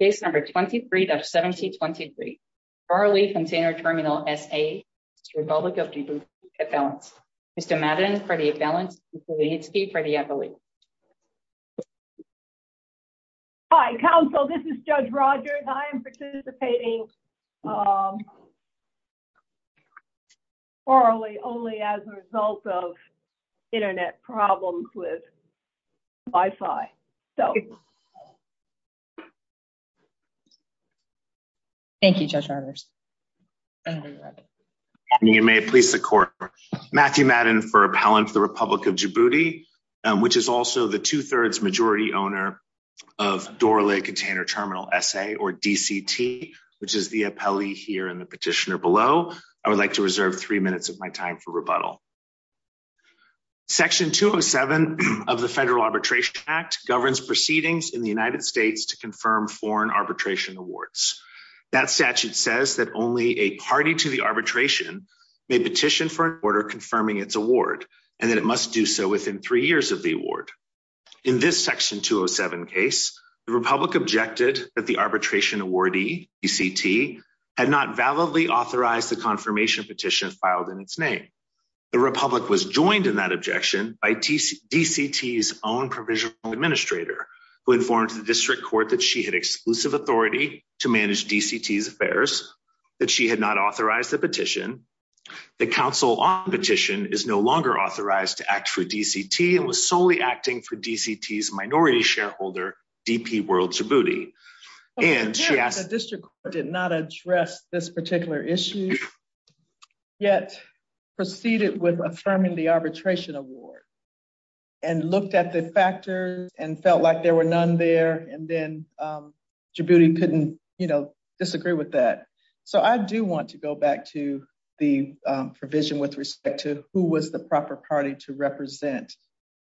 Case number 23-1723, Raleh Container Terminal SA v. Republic of Djibouti Headbalance. Mr. Madden for the Headbalance, Ms. Lehitsky for the Advocate. Hi, counsel. This is Judge Rogers. I am participating orally only as a result of Internet problems with Wi-Fi. Thank you, Judge Rogers. You may please support. Matthew Madden for Appellant for the Republic of Djibouti, which is also the two-thirds majority owner of Doraleh Container Terminal SA or DCT, which is the appellee here in the petitioner below. I would like to reserve three minutes of my time for rebuttal. Section 207 of the Federal Arbitration Act governs proceedings in the United States to confirm foreign arbitration awards. That statute says that only a party to the arbitration may petition for an order confirming its award and that it must do so within three years of the award. In this Section 207 case, the Republic objected that the arbitration awardee, DCT, had not validly authorized the confirmation petition filed in its name. The Republic was joined in that objection by DCT's own provisional administrator who informed the District Court that she had exclusive authority to manage DCT's affairs, that she had not authorized the petition. The counsel on the petition is no longer authorized to act for DCT and was solely acting for DCT's minority shareholder, DP World Djibouti. The District Court did not address this particular issue, yet proceeded with affirming the non-existence of the arbitration award. I do want to go back to the provision with respect to who was the proper party to represent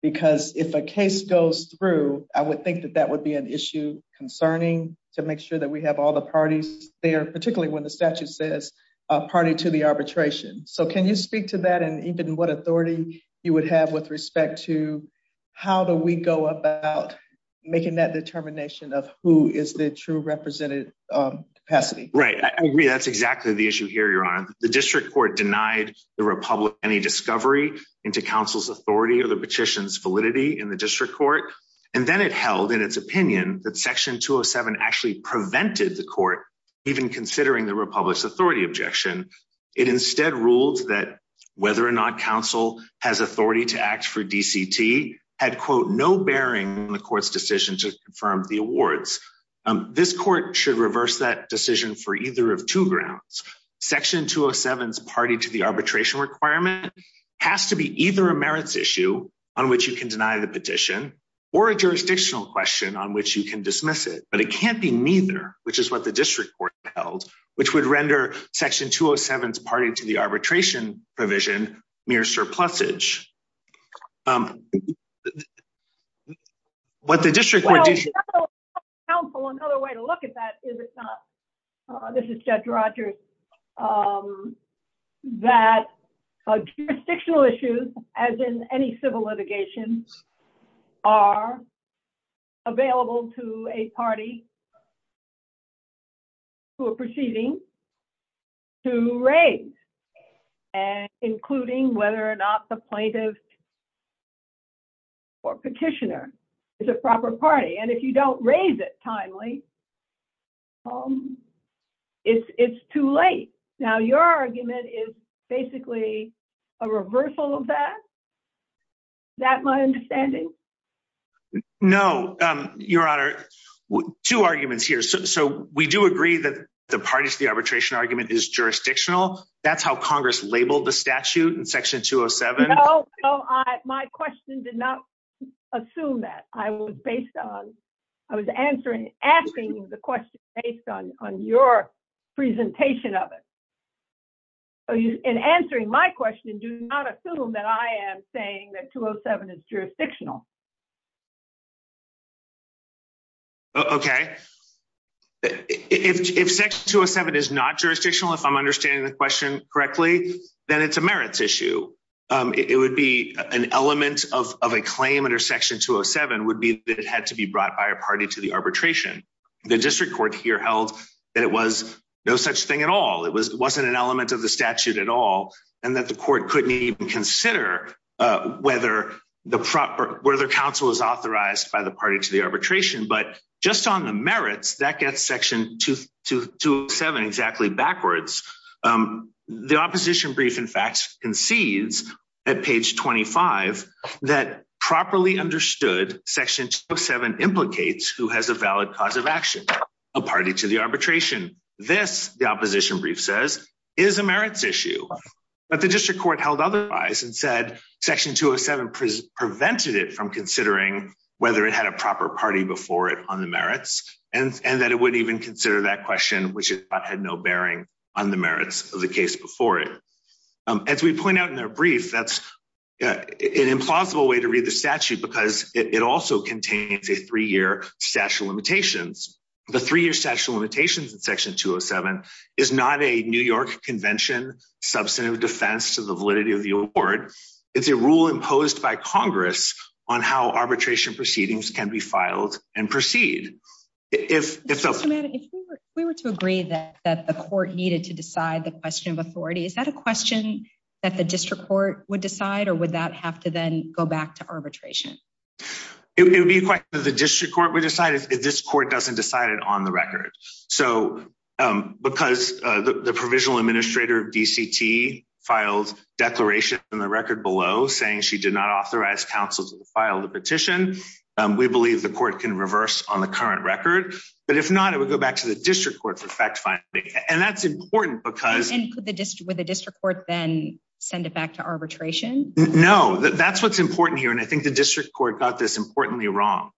because if a case goes through, I would think that that would be an issue concerning to make sure that we have all the parties there, particularly when the statute says a party to the arbitration. Can you speak to that and even what authority you would have with respect to how do we go about making that determination of who is the true representative capacity? Right, I agree. That's exactly the issue here, Your Honor. The District Court denied the Republic any discovery into counsel's authority or the petition's validity in the District Court, and then it held in its opinion that Section 207 actually prevented the Court even considering the Republic's authority objection. It instead ruled that whether or not counsel has authority to act for DCT had, quote, no bearing on the Court's decision to confirm the awards. This Court should reverse that decision for either of two grounds. Section 207's party to the arbitration requirement has to be either a merits issue on which you can deny the petition or a jurisdictional question on which you can dismiss it, but it can't be neither, which is what the District Court held, which would render Section 207's party to the arbitration provision mere surplusage. What the District Court... Counsel, another way to look at that is, if not, this is Judge Rogers, that jurisdictional issues, as in any civil litigation, are available to a party who are proceeding to raise, including whether or not the plaintiff or petitioner is a proper party, and if you don't raise it timely, it's too late. Now, your argument is basically a reversal of that? Is that my understanding? No, Your Honor. Two arguments here. So, we do agree that the party to the arbitration argument is jurisdictional. That's how Congress labeled the statute in Section 207. No, no. My question did not assume that. I was based on... I was answering, asking the question based on your presentation of it. In answering my question, do not assume that I am saying that it is jurisdictional. Okay. If Section 207 is not jurisdictional, if I'm understanding the question correctly, then it's a merits issue. It would be an element of a claim under Section 207 would be that it had to be brought by a party to the arbitration. The District Court here held that it was no such thing at all. It wasn't an element of the statute at all, and that the court couldn't even consider whether counsel is authorized by the party to the arbitration. But just on the merits, that gets Section 207 exactly backwards. The opposition brief, in fact, concedes at page 25 that properly understood Section 207 implicates who has a valid cause of action, a party to the arbitration. This, the opposition brief says, is a merits issue. But District Court held otherwise and said Section 207 prevented it from considering whether it had a proper party before it on the merits, and that it wouldn't even consider that question, which had no bearing on the merits of the case before it. As we point out in their brief, that's an implausible way to read the statute because it also contains a three-year statute of limitations. The three-year statute of limitations in Section 207 is not a New York Convention, substantive defense to the validity of the award. It's a rule imposed by Congress on how arbitration proceedings can be filed and proceed. If we were to agree that the court needed to decide the question of authority, is that a question that the District Court would decide, or would that have to then go back to arbitration? It would be a question that the District Court would decide if this court doesn't decide it on the record. So because the provisional administrator of DCT filed declaration in the record below saying she did not authorize counsel to file the petition, we believe the court can reverse on the current record. But if not, it would go back to the District Court for fact-finding. And that's important because... And could the District Court then send it back to arbitration? No, that's what's important here. And I think the District Court got this importantly wrong.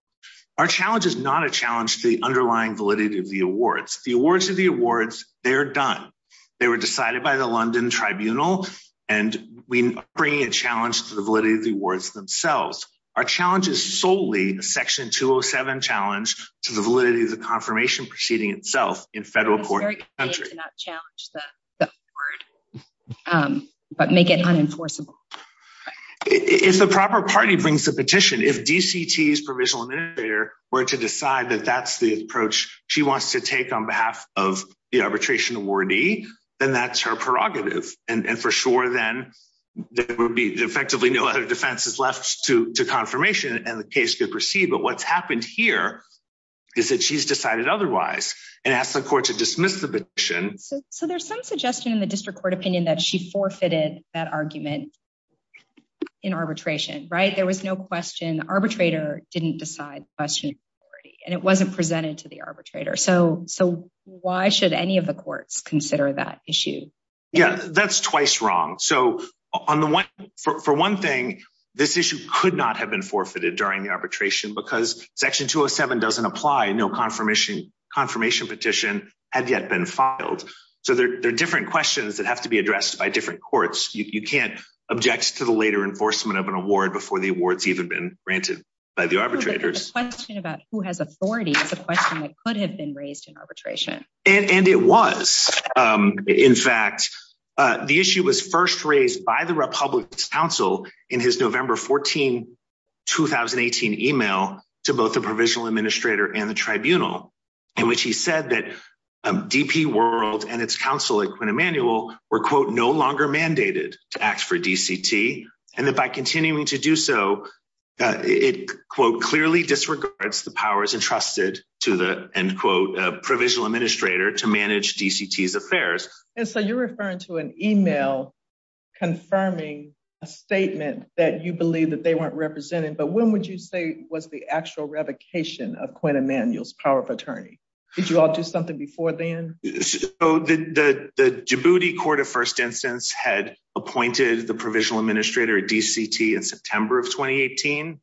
Our challenge is not a challenge to the underlying validity of the awards. The awards are the awards, they're done. They were decided by the London Tribunal, and we bring a challenge to the validity of the awards themselves. Our challenge is solely a Section 207 challenge to the validity of the confirmation proceeding itself in federal court in the country. It's very convenient to not challenge the award, but make it unenforceable. If the proper party brings the petition, if DCT's provisional administrator were to decide that that's the approach she wants to take on behalf of the arbitration awardee, then that's her prerogative. And for sure, then there would be effectively no other defenses left to confirmation and the case could proceed. But what's happened here is that she's decided otherwise and asked the court to dismiss the petition. So there's some suggestion in the District Court opinion that she forfeited that argument in arbitration, right? There was no question. The arbitrator didn't decide the question, and it wasn't presented to the arbitrator. So why should any of the courts consider that issue? Yeah, that's twice wrong. So for one thing, this issue could not have been forfeited during the arbitration because Section 207 doesn't apply. No confirmation petition had yet been filed. So there are different questions that have to be addressed by different courts. You can't object to the later enforcement of an award before the award's even been granted by the arbitrators. The question about who has authority is a question that could have been raised in arbitration. And it was. In fact, the issue was first raised by the Republican Council in his November 14, 2018 email to both the provisional administrator and the tribunal, in which he said that DP World and its counsel at Quinn Emanuel were, quote, mandated to act for DCT and that by continuing to do so, it, quote, clearly disregards the powers entrusted to the, end quote, provisional administrator to manage DCT's affairs. And so you're referring to an email confirming a statement that you believe that they weren't represented. But when would you say was the actual revocation of Quinn Emanuel's power of attorney? Did you all do something before then? So the Djibouti Court of First Instance had appointed the provisional administrator DCT in September of 2018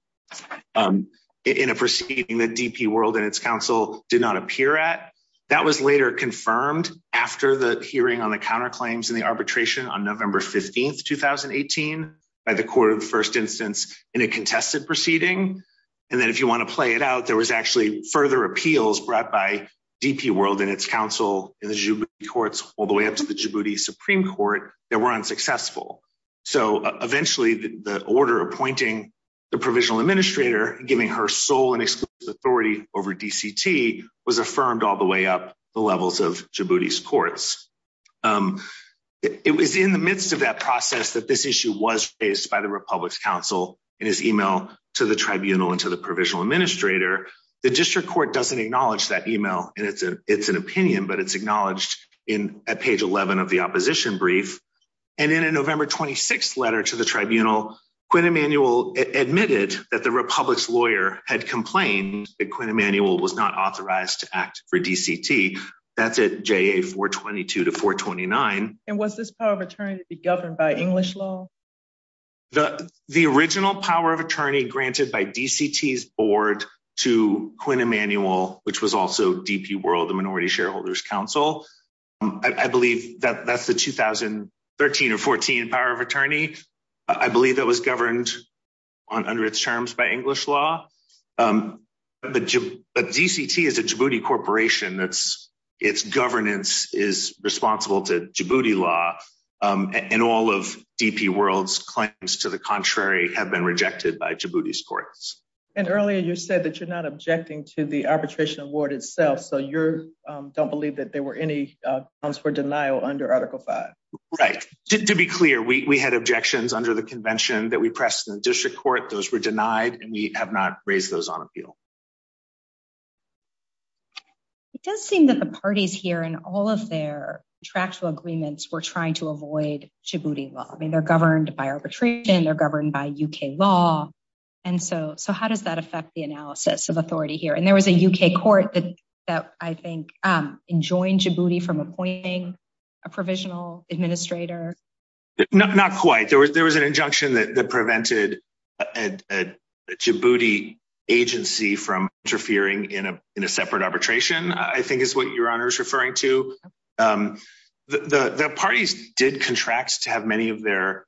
in a proceeding that DP World and its counsel did not appear at. That was later confirmed after the hearing on the counterclaims and the arbitration on November 15, 2018 by the Court of the First Instance in a contested proceeding. And then if you want to play it out, there was actually further appeals brought by DP World and its counsel in the Djibouti courts all the way up to the Djibouti Supreme Court that were unsuccessful. So eventually the order appointing the provisional administrator and giving her sole and exclusive authority over DCT was affirmed all the way up the levels of Djibouti's courts. It was in the midst of that process that this issue was raised by the Republic's counsel in his email to the tribunal and to the provisional administrator. The district court doesn't acknowledge that email and it's an opinion, but it's acknowledged at page 11 of the opposition brief. And in a November 26 letter to the tribunal, Quinn Emanuel admitted that the Republic's lawyer had complained that Quinn Emanuel was not authorized to act for DCT. That's at JA 422 to 429. And was this power of attorney to be governed by English law? The original power of attorney granted by DCT's board to Quinn Emanuel, which was also DP World, the Minority Shareholders Council, I believe that that's the 2013 or 14 power of attorney. I believe that was governed under its terms by English law. But DCT is a Djibouti corporation that's, its governance is responsible to Djibouti law. And all of DP World's claims to the contrary have been rejected by Djibouti's courts. And earlier you said that you're not objecting to the arbitration award itself. So you're, don't believe that there were any grounds for denial under Article 5. Right. To be clear, we had objections under the convention that we pressed in the district court. Those were denied and we have not raised those on appeal. It does seem that the parties here and all of their contractual agreements were trying to avoid Djibouti law. I mean, they're governed by arbitration, they're governed by UK law. And so how does that affect the analysis of authority here? And there was a UK court that I think enjoined Djibouti from appointing a provisional administrator. Not quite. There was an injunction that prevented a Djibouti agency from interfering in a separate arbitration, I think is what your honor is referring to. The parties did contract to have many of their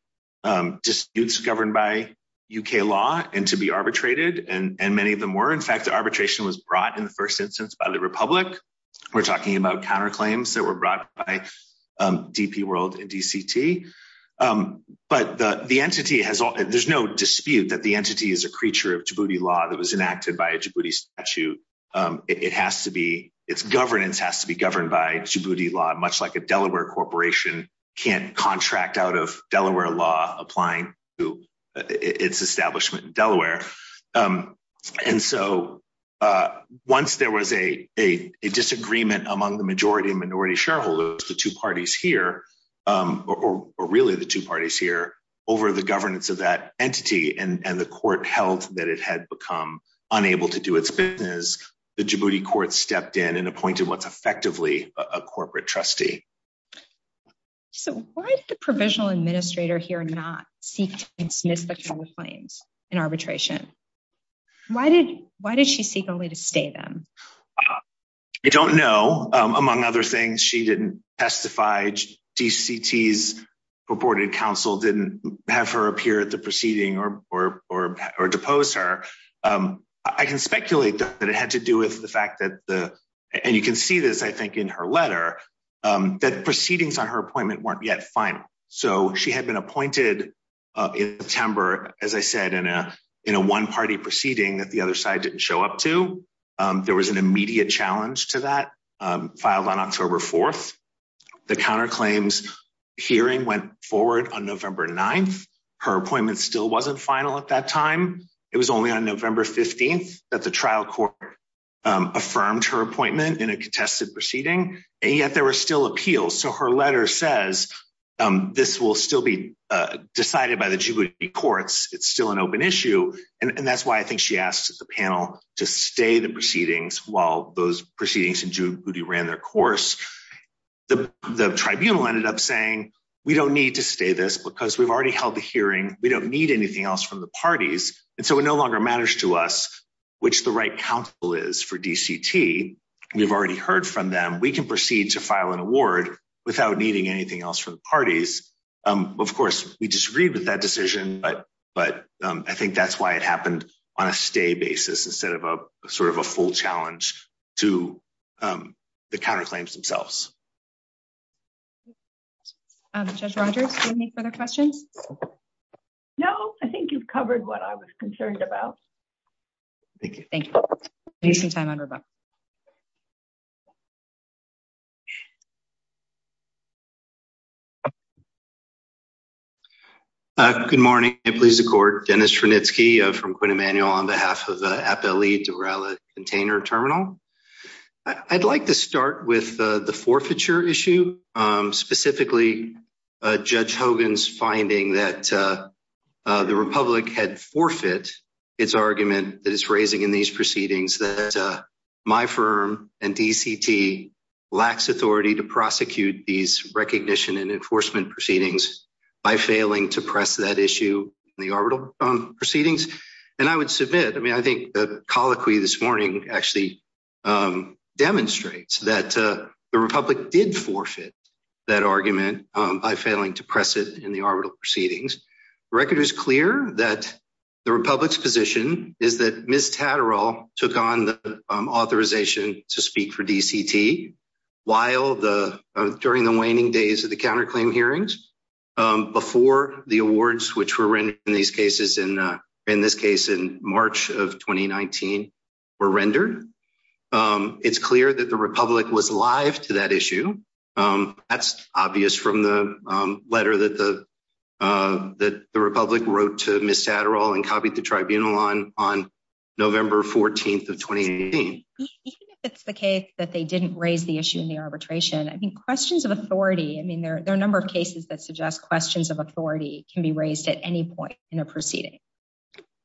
disputes governed by UK law and to be arbitrated. And many of them were. In fact, the arbitration was brought in the first instance by the Republic. We're talking about counterclaims that were brought by DP World and DCT. But the entity has, there's no dispute that the entity is a creature of Djibouti law that was enacted by a Djibouti statute. It has to be, its governance has to be governed by Djibouti law, much like a Delaware corporation can't contract out of Delaware law applying to its establishment in Delaware. And so once there was a disagreement among the majority and minority shareholders, the two parties here, or really the two parties here, over the governance of that entity and the court held that it had become unable to do its business, the Djibouti court stepped in and appointed what's effectively a corporate trustee. So why did the provisional administrator here not seek to dismiss the claims in arbitration? Why did she seek only to stay them? I don't know. Among other things, she didn't testify. DCT's purported counsel didn't have her appear at the proceeding or depose her. I can speculate that it had to do with the fact that the, and you can see this, I think, in her letter, that proceedings on her appointment weren't yet final. So she had been appointed in September, as I said, in a one-party proceeding that the immediate challenge to that filed on October 4th. The counterclaims hearing went forward on November 9th. Her appointment still wasn't final at that time. It was only on November 15th that the trial court affirmed her appointment in a contested proceeding. And yet there were still appeals. So her letter says this will still be decided by the Djibouti courts. It's still an open issue. And that's why I think she asked the panel to stay the proceedings while those proceedings in Djibouti ran their course. The tribunal ended up saying, we don't need to stay this because we've already held the hearing. We don't need anything else from the parties. And so it no longer matters to us which the right counsel is for DCT. We've already heard from them. We can proceed to file an award without needing anything else from the parties. Of course, we disagreed with that decision, but I think that's why it happened on a stay basis instead of a sort of a full challenge to the counterclaims themselves. Judge Rogers, do you have any further questions? No, I think you've covered what I was concerned about. Thank you. Thank you. I need some time on my phone. Good morning. I please the court. Dennis Frenitsky from Quinn Emanuel on behalf of the Appellee Durala Container Terminal. I'd like to start with the forfeiture issue. Specifically, Judge Hogan's finding that the Republic had forfeit its argument that is raising in these proceedings that my firm and DCT lacks authority to prosecute these recognition and enforcement proceedings by failing to press that issue in the arbitral proceedings. And I would submit, I mean, I think the colloquy this morning actually demonstrates that the Republic did forfeit that argument by failing to press it in the arbitral proceedings. The record is clear that the Republic's position is that Ms. Tatterall took on the authorization to speak for DCT during the waning days of the counterclaim hearings before the awards which were rendered in these cases, in this case in March of 2019, were rendered. It's clear that the Republic was live to that issue. That's obvious from the letter that the Republic wrote to Ms. Tatterall and copied the tribunal on November 14th of 2018. Even if it's the case that they didn't raise the issue in the arbitration, I mean, questions of authority, I mean, there are a number of cases that suggest questions of authority can be raised at any point in a proceeding.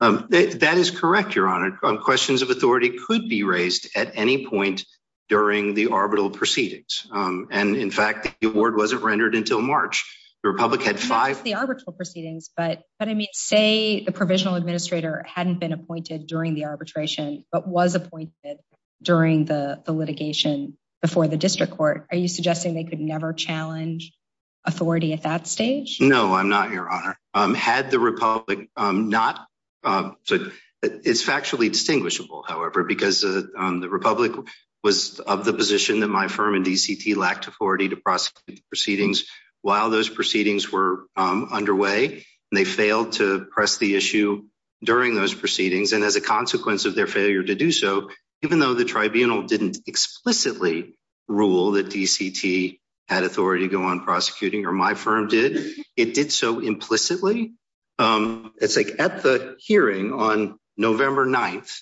That is correct, Your Honor. Questions of authority could be raised at any point during the arbitral proceedings. And in fact, the award wasn't rendered until March. The Republic had five- Not just the arbitral proceedings, but I mean, say the provisional administrator hadn't been appointed during the arbitration, but was appointed during the litigation before the district court. Are you suggesting they could never challenge authority at that stage? No, I'm not, Your Honor. It's factually distinguishable, however, because the Republic was of the position that my firm and DCT lacked authority to prosecute the proceedings while those proceedings were underway, and they failed to press the issue during those proceedings. And as a consequence of their failure to do so, even though the tribunal didn't explicitly rule that DCT had authority to go on prosecuting, or my firm did, it did so implicitly. It's like at the hearing on November 9th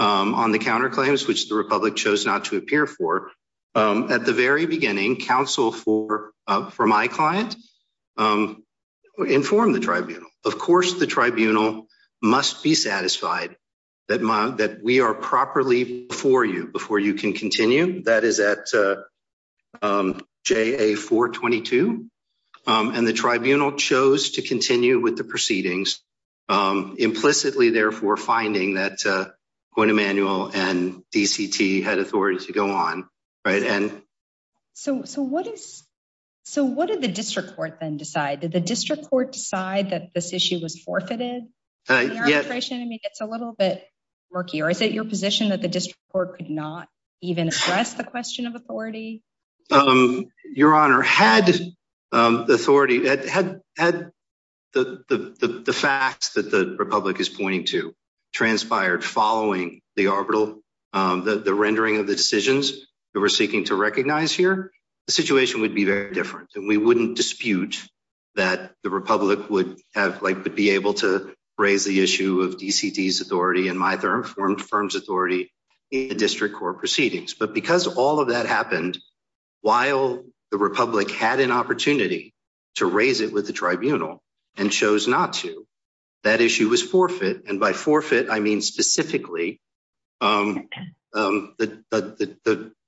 on the counterclaims, which the Republic chose not to appear for, at the very beginning, counsel for my client informed the tribunal. Of course, the tribunal must be satisfied that we are properly before you, before you can continue. That is at JA-422. And the tribunal chose to continue with the proceedings, implicitly, therefore, finding that Emanuel and DCT had authority to go on, right? So what did the district court then decide? Did the district court decide that this issue was forfeited? I mean, it's a little bit murky. Or is it your position that the district court could not even address the question of authority? Your Honor, had the authority, had the facts that the Republic is pointing to transpired following the arbitral, the rendering of the decisions that we're seeking to recognize here, the situation would be very different. And we wouldn't dispute that the Republic would have, like, would be able to raise the issue of DCT's in the district court proceedings. But because all of that happened, while the Republic had an opportunity to raise it with the tribunal and chose not to, that issue was forfeit. And by forfeit, I mean, specifically, the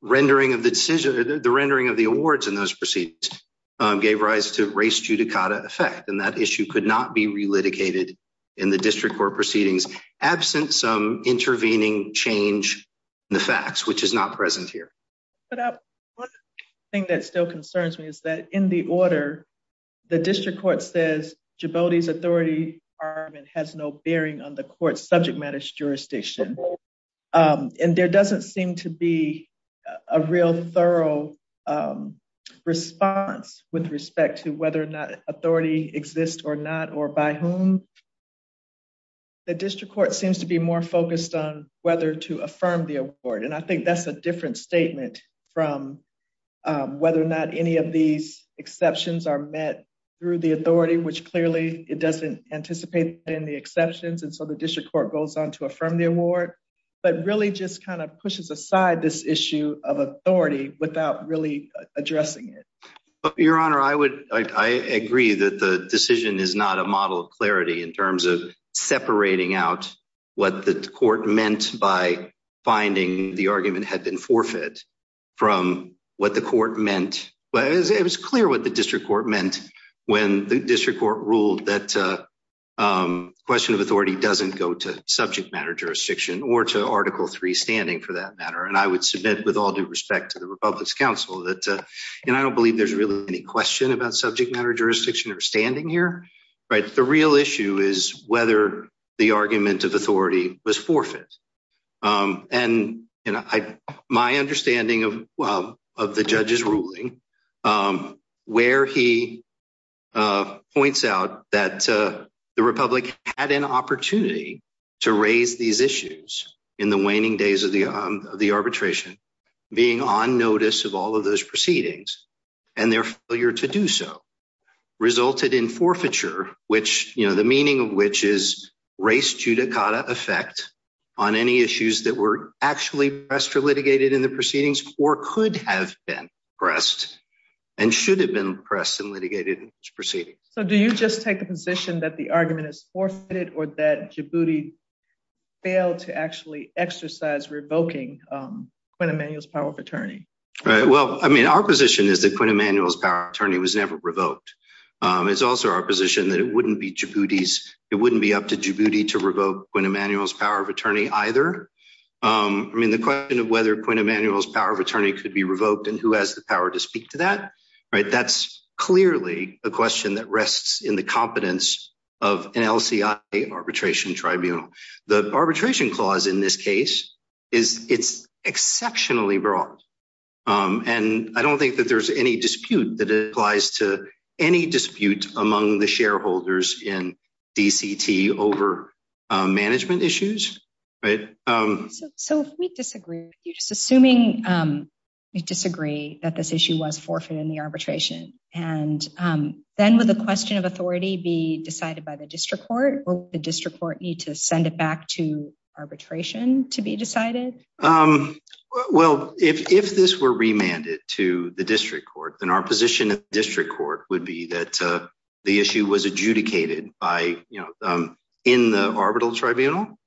rendering of the decision, the rendering of the awards in those proceedings gave rise to race judicata effect. And that issue could not be relitigated in the district court proceedings, absent some intervening change in the facts, which is not present here. But one thing that still concerns me is that in the order, the district court says Djibouti's authority has no bearing on the court's subject matters jurisdiction. And there doesn't seem to be a real thorough response with respect to whether or not exists or not or by whom. The district court seems to be more focused on whether to affirm the award. And I think that's a different statement from whether or not any of these exceptions are met through the authority, which clearly it doesn't anticipate in the exceptions. And so the district court goes on to affirm the award, but really just kind of pushes aside this addressing it. Your Honor, I agree that the decision is not a model of clarity in terms of separating out what the court meant by finding the argument had been forfeit from what the court meant. It was clear what the district court meant when the district court ruled that question of authority doesn't go to subject matter jurisdiction or to Article III standing for that that. And I don't believe there's really any question about subject matter jurisdiction or standing here. The real issue is whether the argument of authority was forfeit. And my understanding of the judge's ruling, where he points out that the Republic had an opportunity to raise these issues in the waning days of the arbitration, being on notice of all those proceedings and their failure to do so resulted in forfeiture, which the meaning of which is race judicata effect on any issues that were actually pressed or litigated in the proceedings or could have been pressed and should have been pressed and litigated proceedings. So do you just take the position that the argument is forfeited or that Djibouti failed to actually exercise revoking Quinn Emanuel's power of attorney? Well, I mean, our position is that Quinn Emanuel's power of attorney was never revoked. It's also our position that it wouldn't be Djibouti's, it wouldn't be up to Djibouti to revoke Quinn Emanuel's power of attorney either. I mean, the question of whether Quinn Emanuel's power of attorney could be revoked and who has the power to speak to that, right? That's clearly a question that rests in the competence of an LCI arbitration tribunal. The arbitration clause in this case is it's exceptionally broad. And I don't think that there's any dispute that applies to any dispute among the shareholders in DCT over management issues, right? So if we disagree, you're just assuming you disagree that this issue was forfeited in the arbitration. And then with the question of arbitration to be decided? Well, if this were remanded to the district court, then our position at the district court would be that the issue was adjudicated by, in the arbitral tribunal,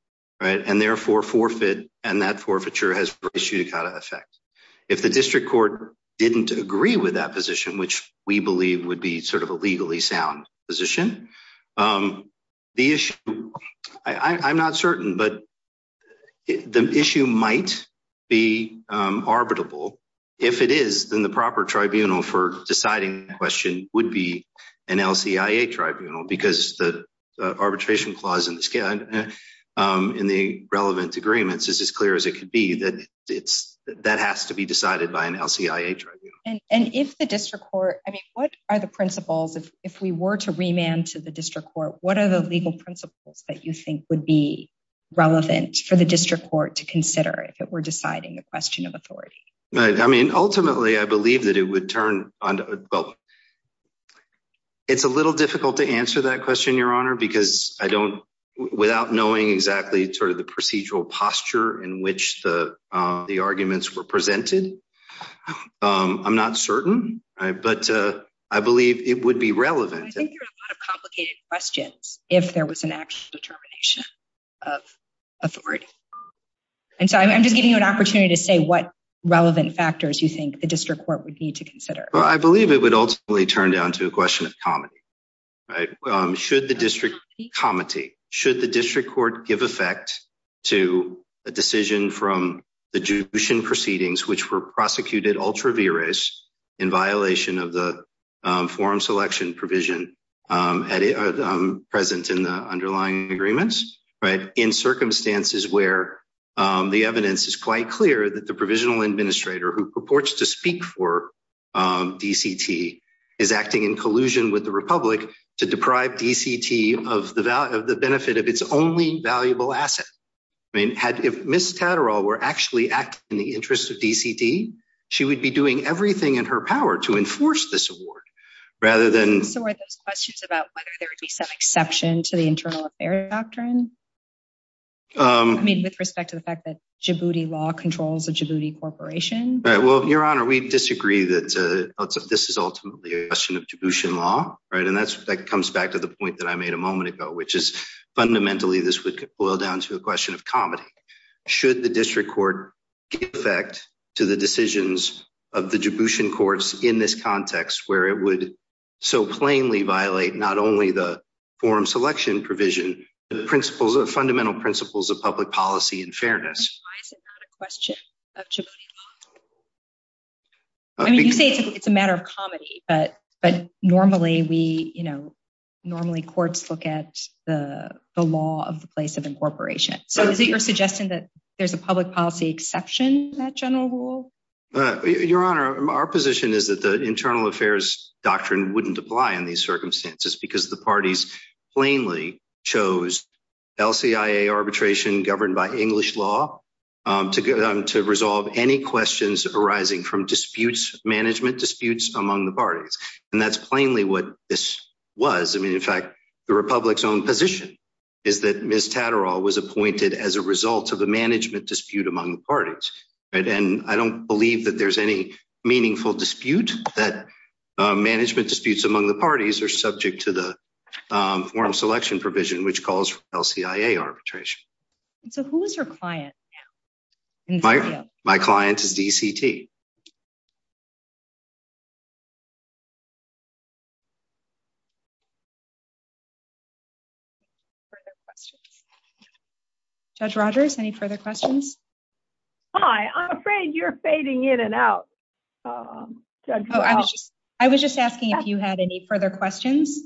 right? And therefore forfeit and that forfeiture has effect. If the district court didn't agree with that position, which we believe would be sort of uncertain, but the issue might be arbitrable. If it is, then the proper tribunal for deciding the question would be an LCIA tribunal because the arbitration clause in the relevant agreements is as clear as it could be that that has to be decided by an LCIA tribunal. And if the district court, I mean, what are the principles if we were to remand to the district court, what are the legal principles that you think would be relevant for the district court to consider if it were deciding the question of authority? Right. I mean, ultimately I believe that it would turn on, well, it's a little difficult to answer that question, your honor, because I don't, without knowing exactly sort of the procedural posture in which the arguments were presented. I'm not certain, but I believe it would be relevant. I think there are a lot of complicated questions if there was an actual determination of authority. And so I'm just giving you an opportunity to say what relevant factors you think the district court would need to consider. Well, I believe it would ultimately turn down to a question of comity, right? Should the district, comity, should the district court give effect to a decision from the Jushin proceedings, which were prosecuted ultra in violation of the forum selection provision at present in the underlying agreements, right? In circumstances where the evidence is quite clear that the provisional administrator who purports to speak for DCT is acting in collusion with the Republic to deprive DCT of the value of the benefit of its only valuable asset. I mean, had if Ms. Tatterall were actually in the interest of DCT, she would be doing everything in her power to enforce this award rather than. So are those questions about whether there would be some exception to the internal affair doctrine? I mean, with respect to the fact that Djibouti law controls the Djibouti corporation. Right. Well, your honor, we disagree that this is ultimately a question of Djiboutian law, right? And that's, that comes back to the point that I made a moment ago, which is give effect to the decisions of the Djiboutian courts in this context, where it would so plainly violate not only the forum selection provision, the principles of fundamental principles of public policy and fairness. Why is it not a question of Djibouti law? I mean, you say it's a matter of comedy, but normally we, you know, normally courts look at the law of the place of incorporation. So you're suggesting that there's a public policy exception, that general rule? Your honor, our position is that the internal affairs doctrine wouldn't apply in these circumstances because the parties plainly chose LCIA arbitration governed by English law to resolve any questions arising from disputes, management disputes among the parties. And that's plainly what this was. I mean, in fact, the Republic's own position is that Ms. Tatterall was appointed as a result of a management dispute among the parties. And I don't believe that there's any meaningful dispute that management disputes among the parties are subject to the forum selection provision, which calls LCIA arbitration. So who is your client? My client is DCT. Judge Rogers, any further questions? Hi, I'm afraid you're fading in and out. I was just asking if you had any further questions.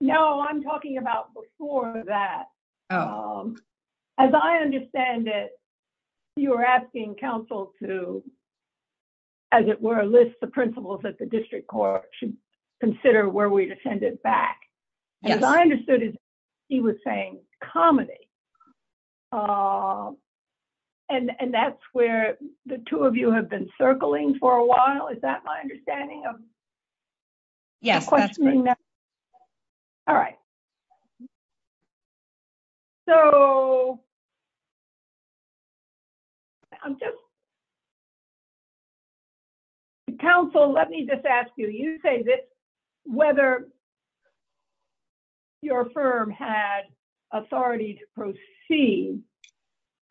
No, I'm talking about before that. As I understand it, you were asking counsel to, as it were, list the principles that the district court should consider where we'd back. As I understood it, he was saying comedy. And that's where the two of you have been circling for a while. Is that my understanding of questioning that? All right. So counsel, let me just ask you, you say this, whether your firm had authority to proceed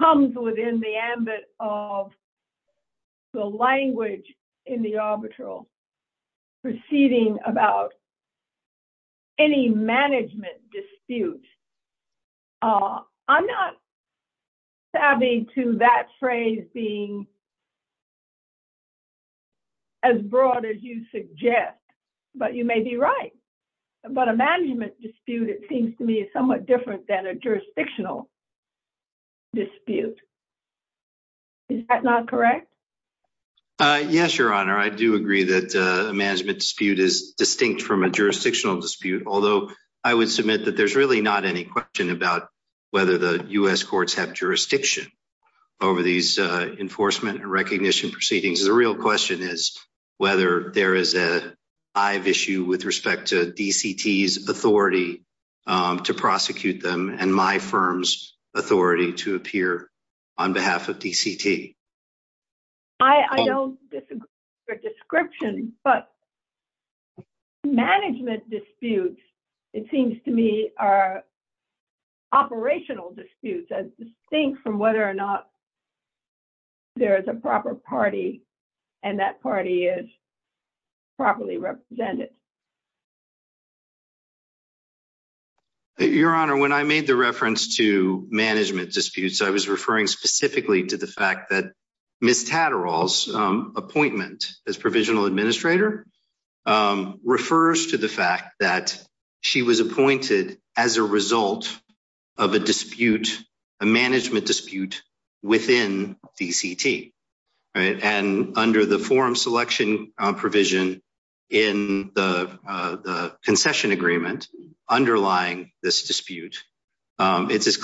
comes within the ambit of the language in the arbitral proceeding about any management dispute. I'm not savvy to that phrase being as broad as you suggest, but you may be right. But a management dispute, it seems to me, is somewhat different than a jurisdictional dispute. Is that not correct? Yes, Your Honor. I do agree that a management dispute is distinct from a jurisdictional dispute, although I would submit that there's really not any question about whether the U.S. courts have jurisdiction over these enforcement and recognition proceedings. The real question is whether there is a hive issue with respect to DCT's authority to prosecute them and my firm's authority to appear on behalf of DCT. I don't disagree with your description, but management disputes, it seems to me, are operational disputes as distinct from whether or not there is a proper party and that party is properly represented. Your Honor, when I made the reference to management disputes, I was referring specifically to the fact that Ms. Tatterall's appointment as provisional administrator refers to the fact that she was appointed as a result of a dispute, a management dispute, within DCT. And under the forum selection provision in the concession agreement underlying this dispute, it's as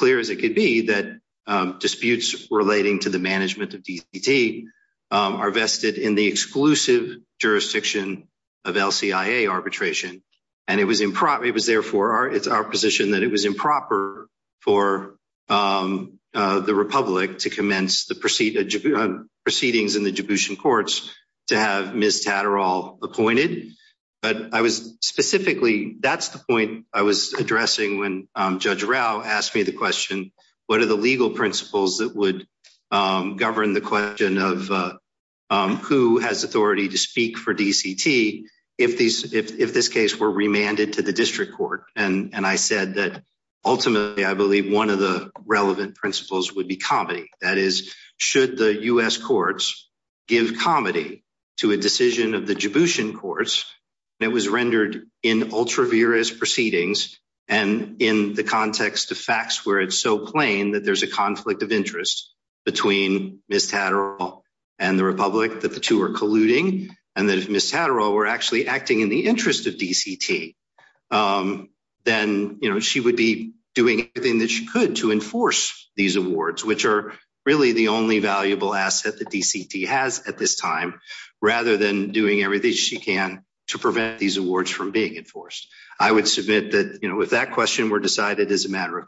to the management of DCT are vested in the exclusive jurisdiction of LCIA arbitration. And it was therefore our position that it was improper for the Republic to commence the proceedings in the Dubushan courts to have Ms. Tatterall appointed. But I was specifically, that's the point I was addressing when Judge Rao asked me the question, what are the legal principles that would govern the question of who has authority to speak for DCT if this case were remanded to the district court? And I said that ultimately, I believe one of the relevant principles would be comedy. That is, should the U.S. courts give comedy to a decision of the Dubushan courts, and it was rendered in ultraviarious proceedings and in the context of plain that there's a conflict of interest between Ms. Tatterall and the Republic, that the two are colluding, and that if Ms. Tatterall were actually acting in the interest of DCT, then she would be doing everything that she could to enforce these awards, which are really the only valuable asset that DCT has at this time, rather than doing everything she can to prevent these awards from being enforced. I would submit that if that question were decided as a matter of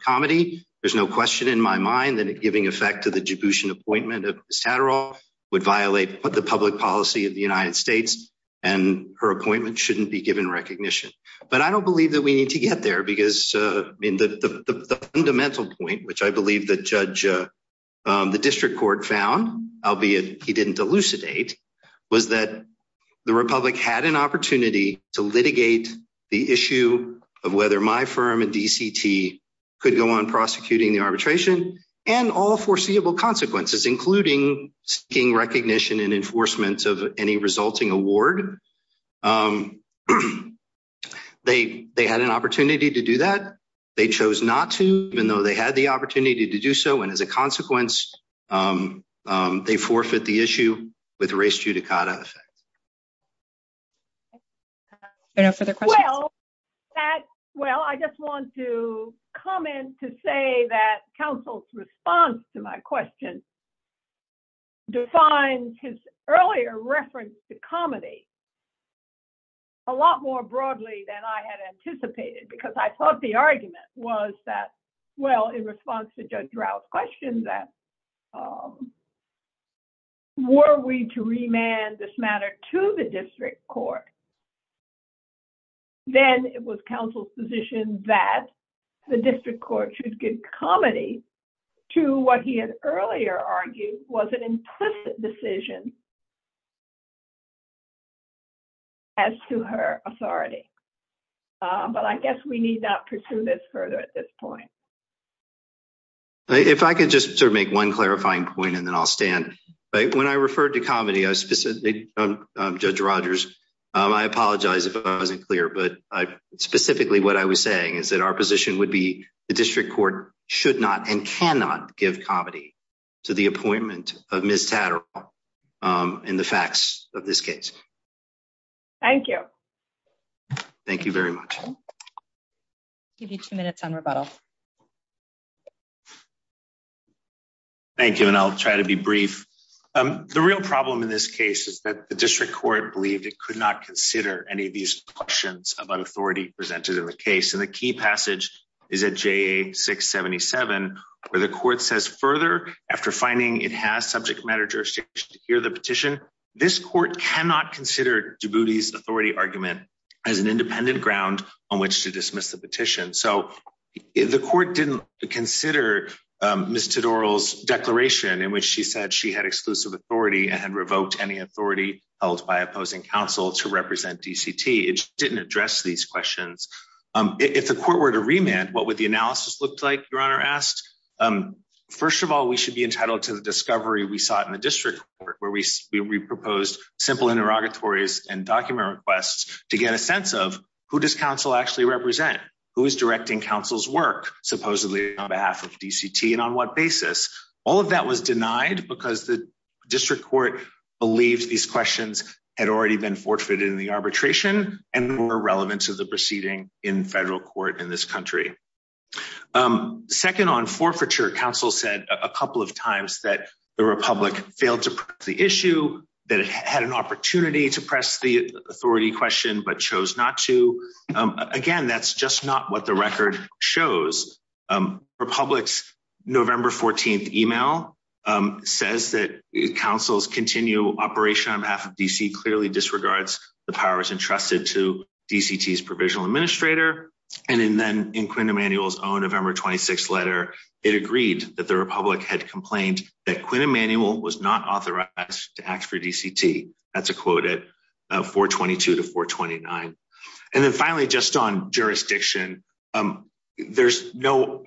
question in my mind, then it giving effect to the Dubushan appointment of Ms. Tatterall would violate the public policy of the United States, and her appointment shouldn't be given recognition. But I don't believe that we need to get there because the fundamental point, which I believe the district court found, albeit he didn't elucidate, was that the Republic had an arbitration and all foreseeable consequences, including seeking recognition and enforcement of any resulting award. They had an opportunity to do that. They chose not to, even though they had the opportunity to do so, and as a consequence, they forfeit the issue with race judicata effect. Are there no further questions? Well, I just want to comment to say that counsel's response to my question defines his earlier reference to comedy a lot more broadly than I had anticipated, because I thought the argument was that, well, in response to Judge Rouse's question that, well, were we to remand this matter to the district court, then it was counsel's position that the district court should give comedy to what he had earlier argued was an implicit decision as to her authority. But I guess we need not pursue this further at this point. If I could just make one clarifying point and then I'll stand. When I referred to comedy, Judge Rodgers, I apologize if I wasn't clear, but specifically what I was saying is that our position would be the district court should not and cannot give comedy to the appointment of Ms. Tatterall in the facts of this case. Thank you. Thank you very much. I'll give you two minutes on rebuttal. Thank you, and I'll try to be brief. The real problem in this case is that the district court believed it could not consider any of these questions about authority presented in the case, and the key passage is at JA 677, where the court says, further, after finding it has subject matter jurisdiction to hear the petition, this court cannot consider Djibouti's authority argument as an independent ground on which to dismiss the petition. So the court didn't consider Ms. Tatterall's declaration in which she said she had exclusive authority and had revoked any authority held by opposing counsel to represent DCT. It didn't address these questions. If the court were to remand, what would the analysis look like, Your Honor asked? First of all, we should be entitled to the discovery we sought in the district court, where we proposed simple interrogatories and document requests to get a sense of who does counsel actually represent, who is directing counsel's work, supposedly on behalf of DCT, and on what basis. All of that was denied because the district court believed these questions had already been forfeited in the arbitration and were irrelevant to the proceeding in federal court in this country. Second, on forfeiture, counsel said a couple of times that the Republic failed to present the to press the authority question but chose not to. Again, that's just not what the record shows. Republic's November 14th email says that counsel's continued operation on behalf of DC clearly disregards the powers entrusted to DCT's provisional administrator. And then in Quinn Emanuel's own November 26th letter, it agreed that the Republic had complained that Quinn Emanuel was not authorized to act for DCT. That's a quote at 422 to 429. And then finally, just on jurisdiction, there was no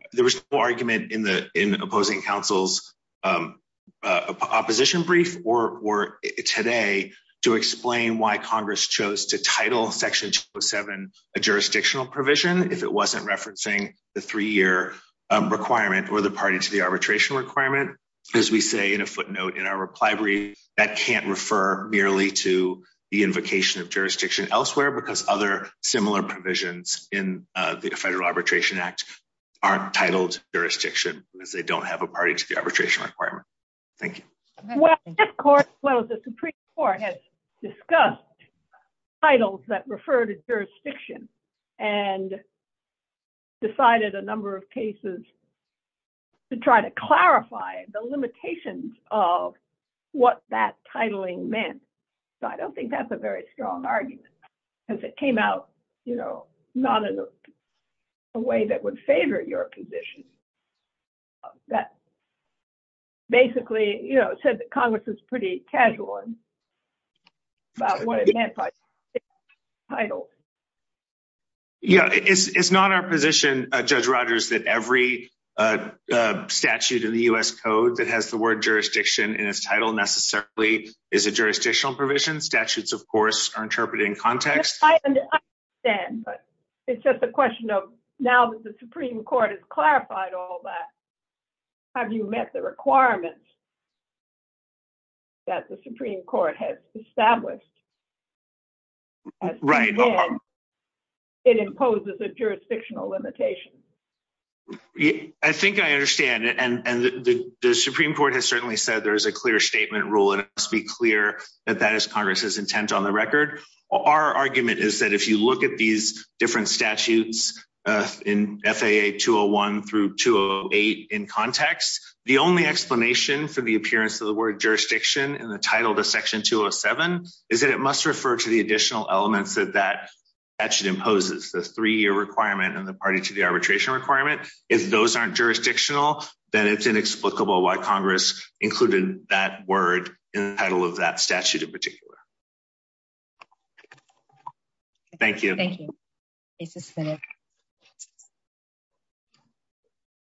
argument in opposing counsel's opposition brief or today to explain why Congress chose to title Section 207 a jurisdictional provision if it wasn't referencing the three-year requirement or the party to the arbitration requirement. As we say in a footnote in our reply brief, that can't refer merely to the invocation of jurisdiction elsewhere because other similar provisions in the Federal Arbitration Act aren't titled jurisdiction because they don't have a party to the arbitration requirement. Thank you. Well, the Supreme Court has discussed titles that refer to jurisdiction and decided a number of cases to try to clarify the limitations of what that titling meant. So I don't think that's a very strong argument because it came out, you know, not in a way that would favor your position. That basically, you know, the Congress was pretty casual about what it meant by title. Yeah, it's not our position, Judge Rogers, that every statute in the U.S. Code that has the word jurisdiction in its title necessarily is a jurisdictional provision. Statutes, of course, are interpreted in context. It's just a question of now that the Supreme Court has clarified all that, have you met the requirements that the Supreme Court has established? Right. It imposes a jurisdictional limitation. I think I understand and the Supreme Court has certainly said there is a clear statement rule and it must be clear that that is Congress's intent on the record. Our argument is that if you look at these different statutes in FAA 201 through 208 in context, the only explanation for the appearance of the word jurisdiction in the title to Section 207 is that it must refer to the additional elements that that statute imposes, the three-year requirement and the party to the arbitration requirement. If those aren't jurisdictional, then it's inexplicable why it's not. Thank you. Thank you. It's just finished.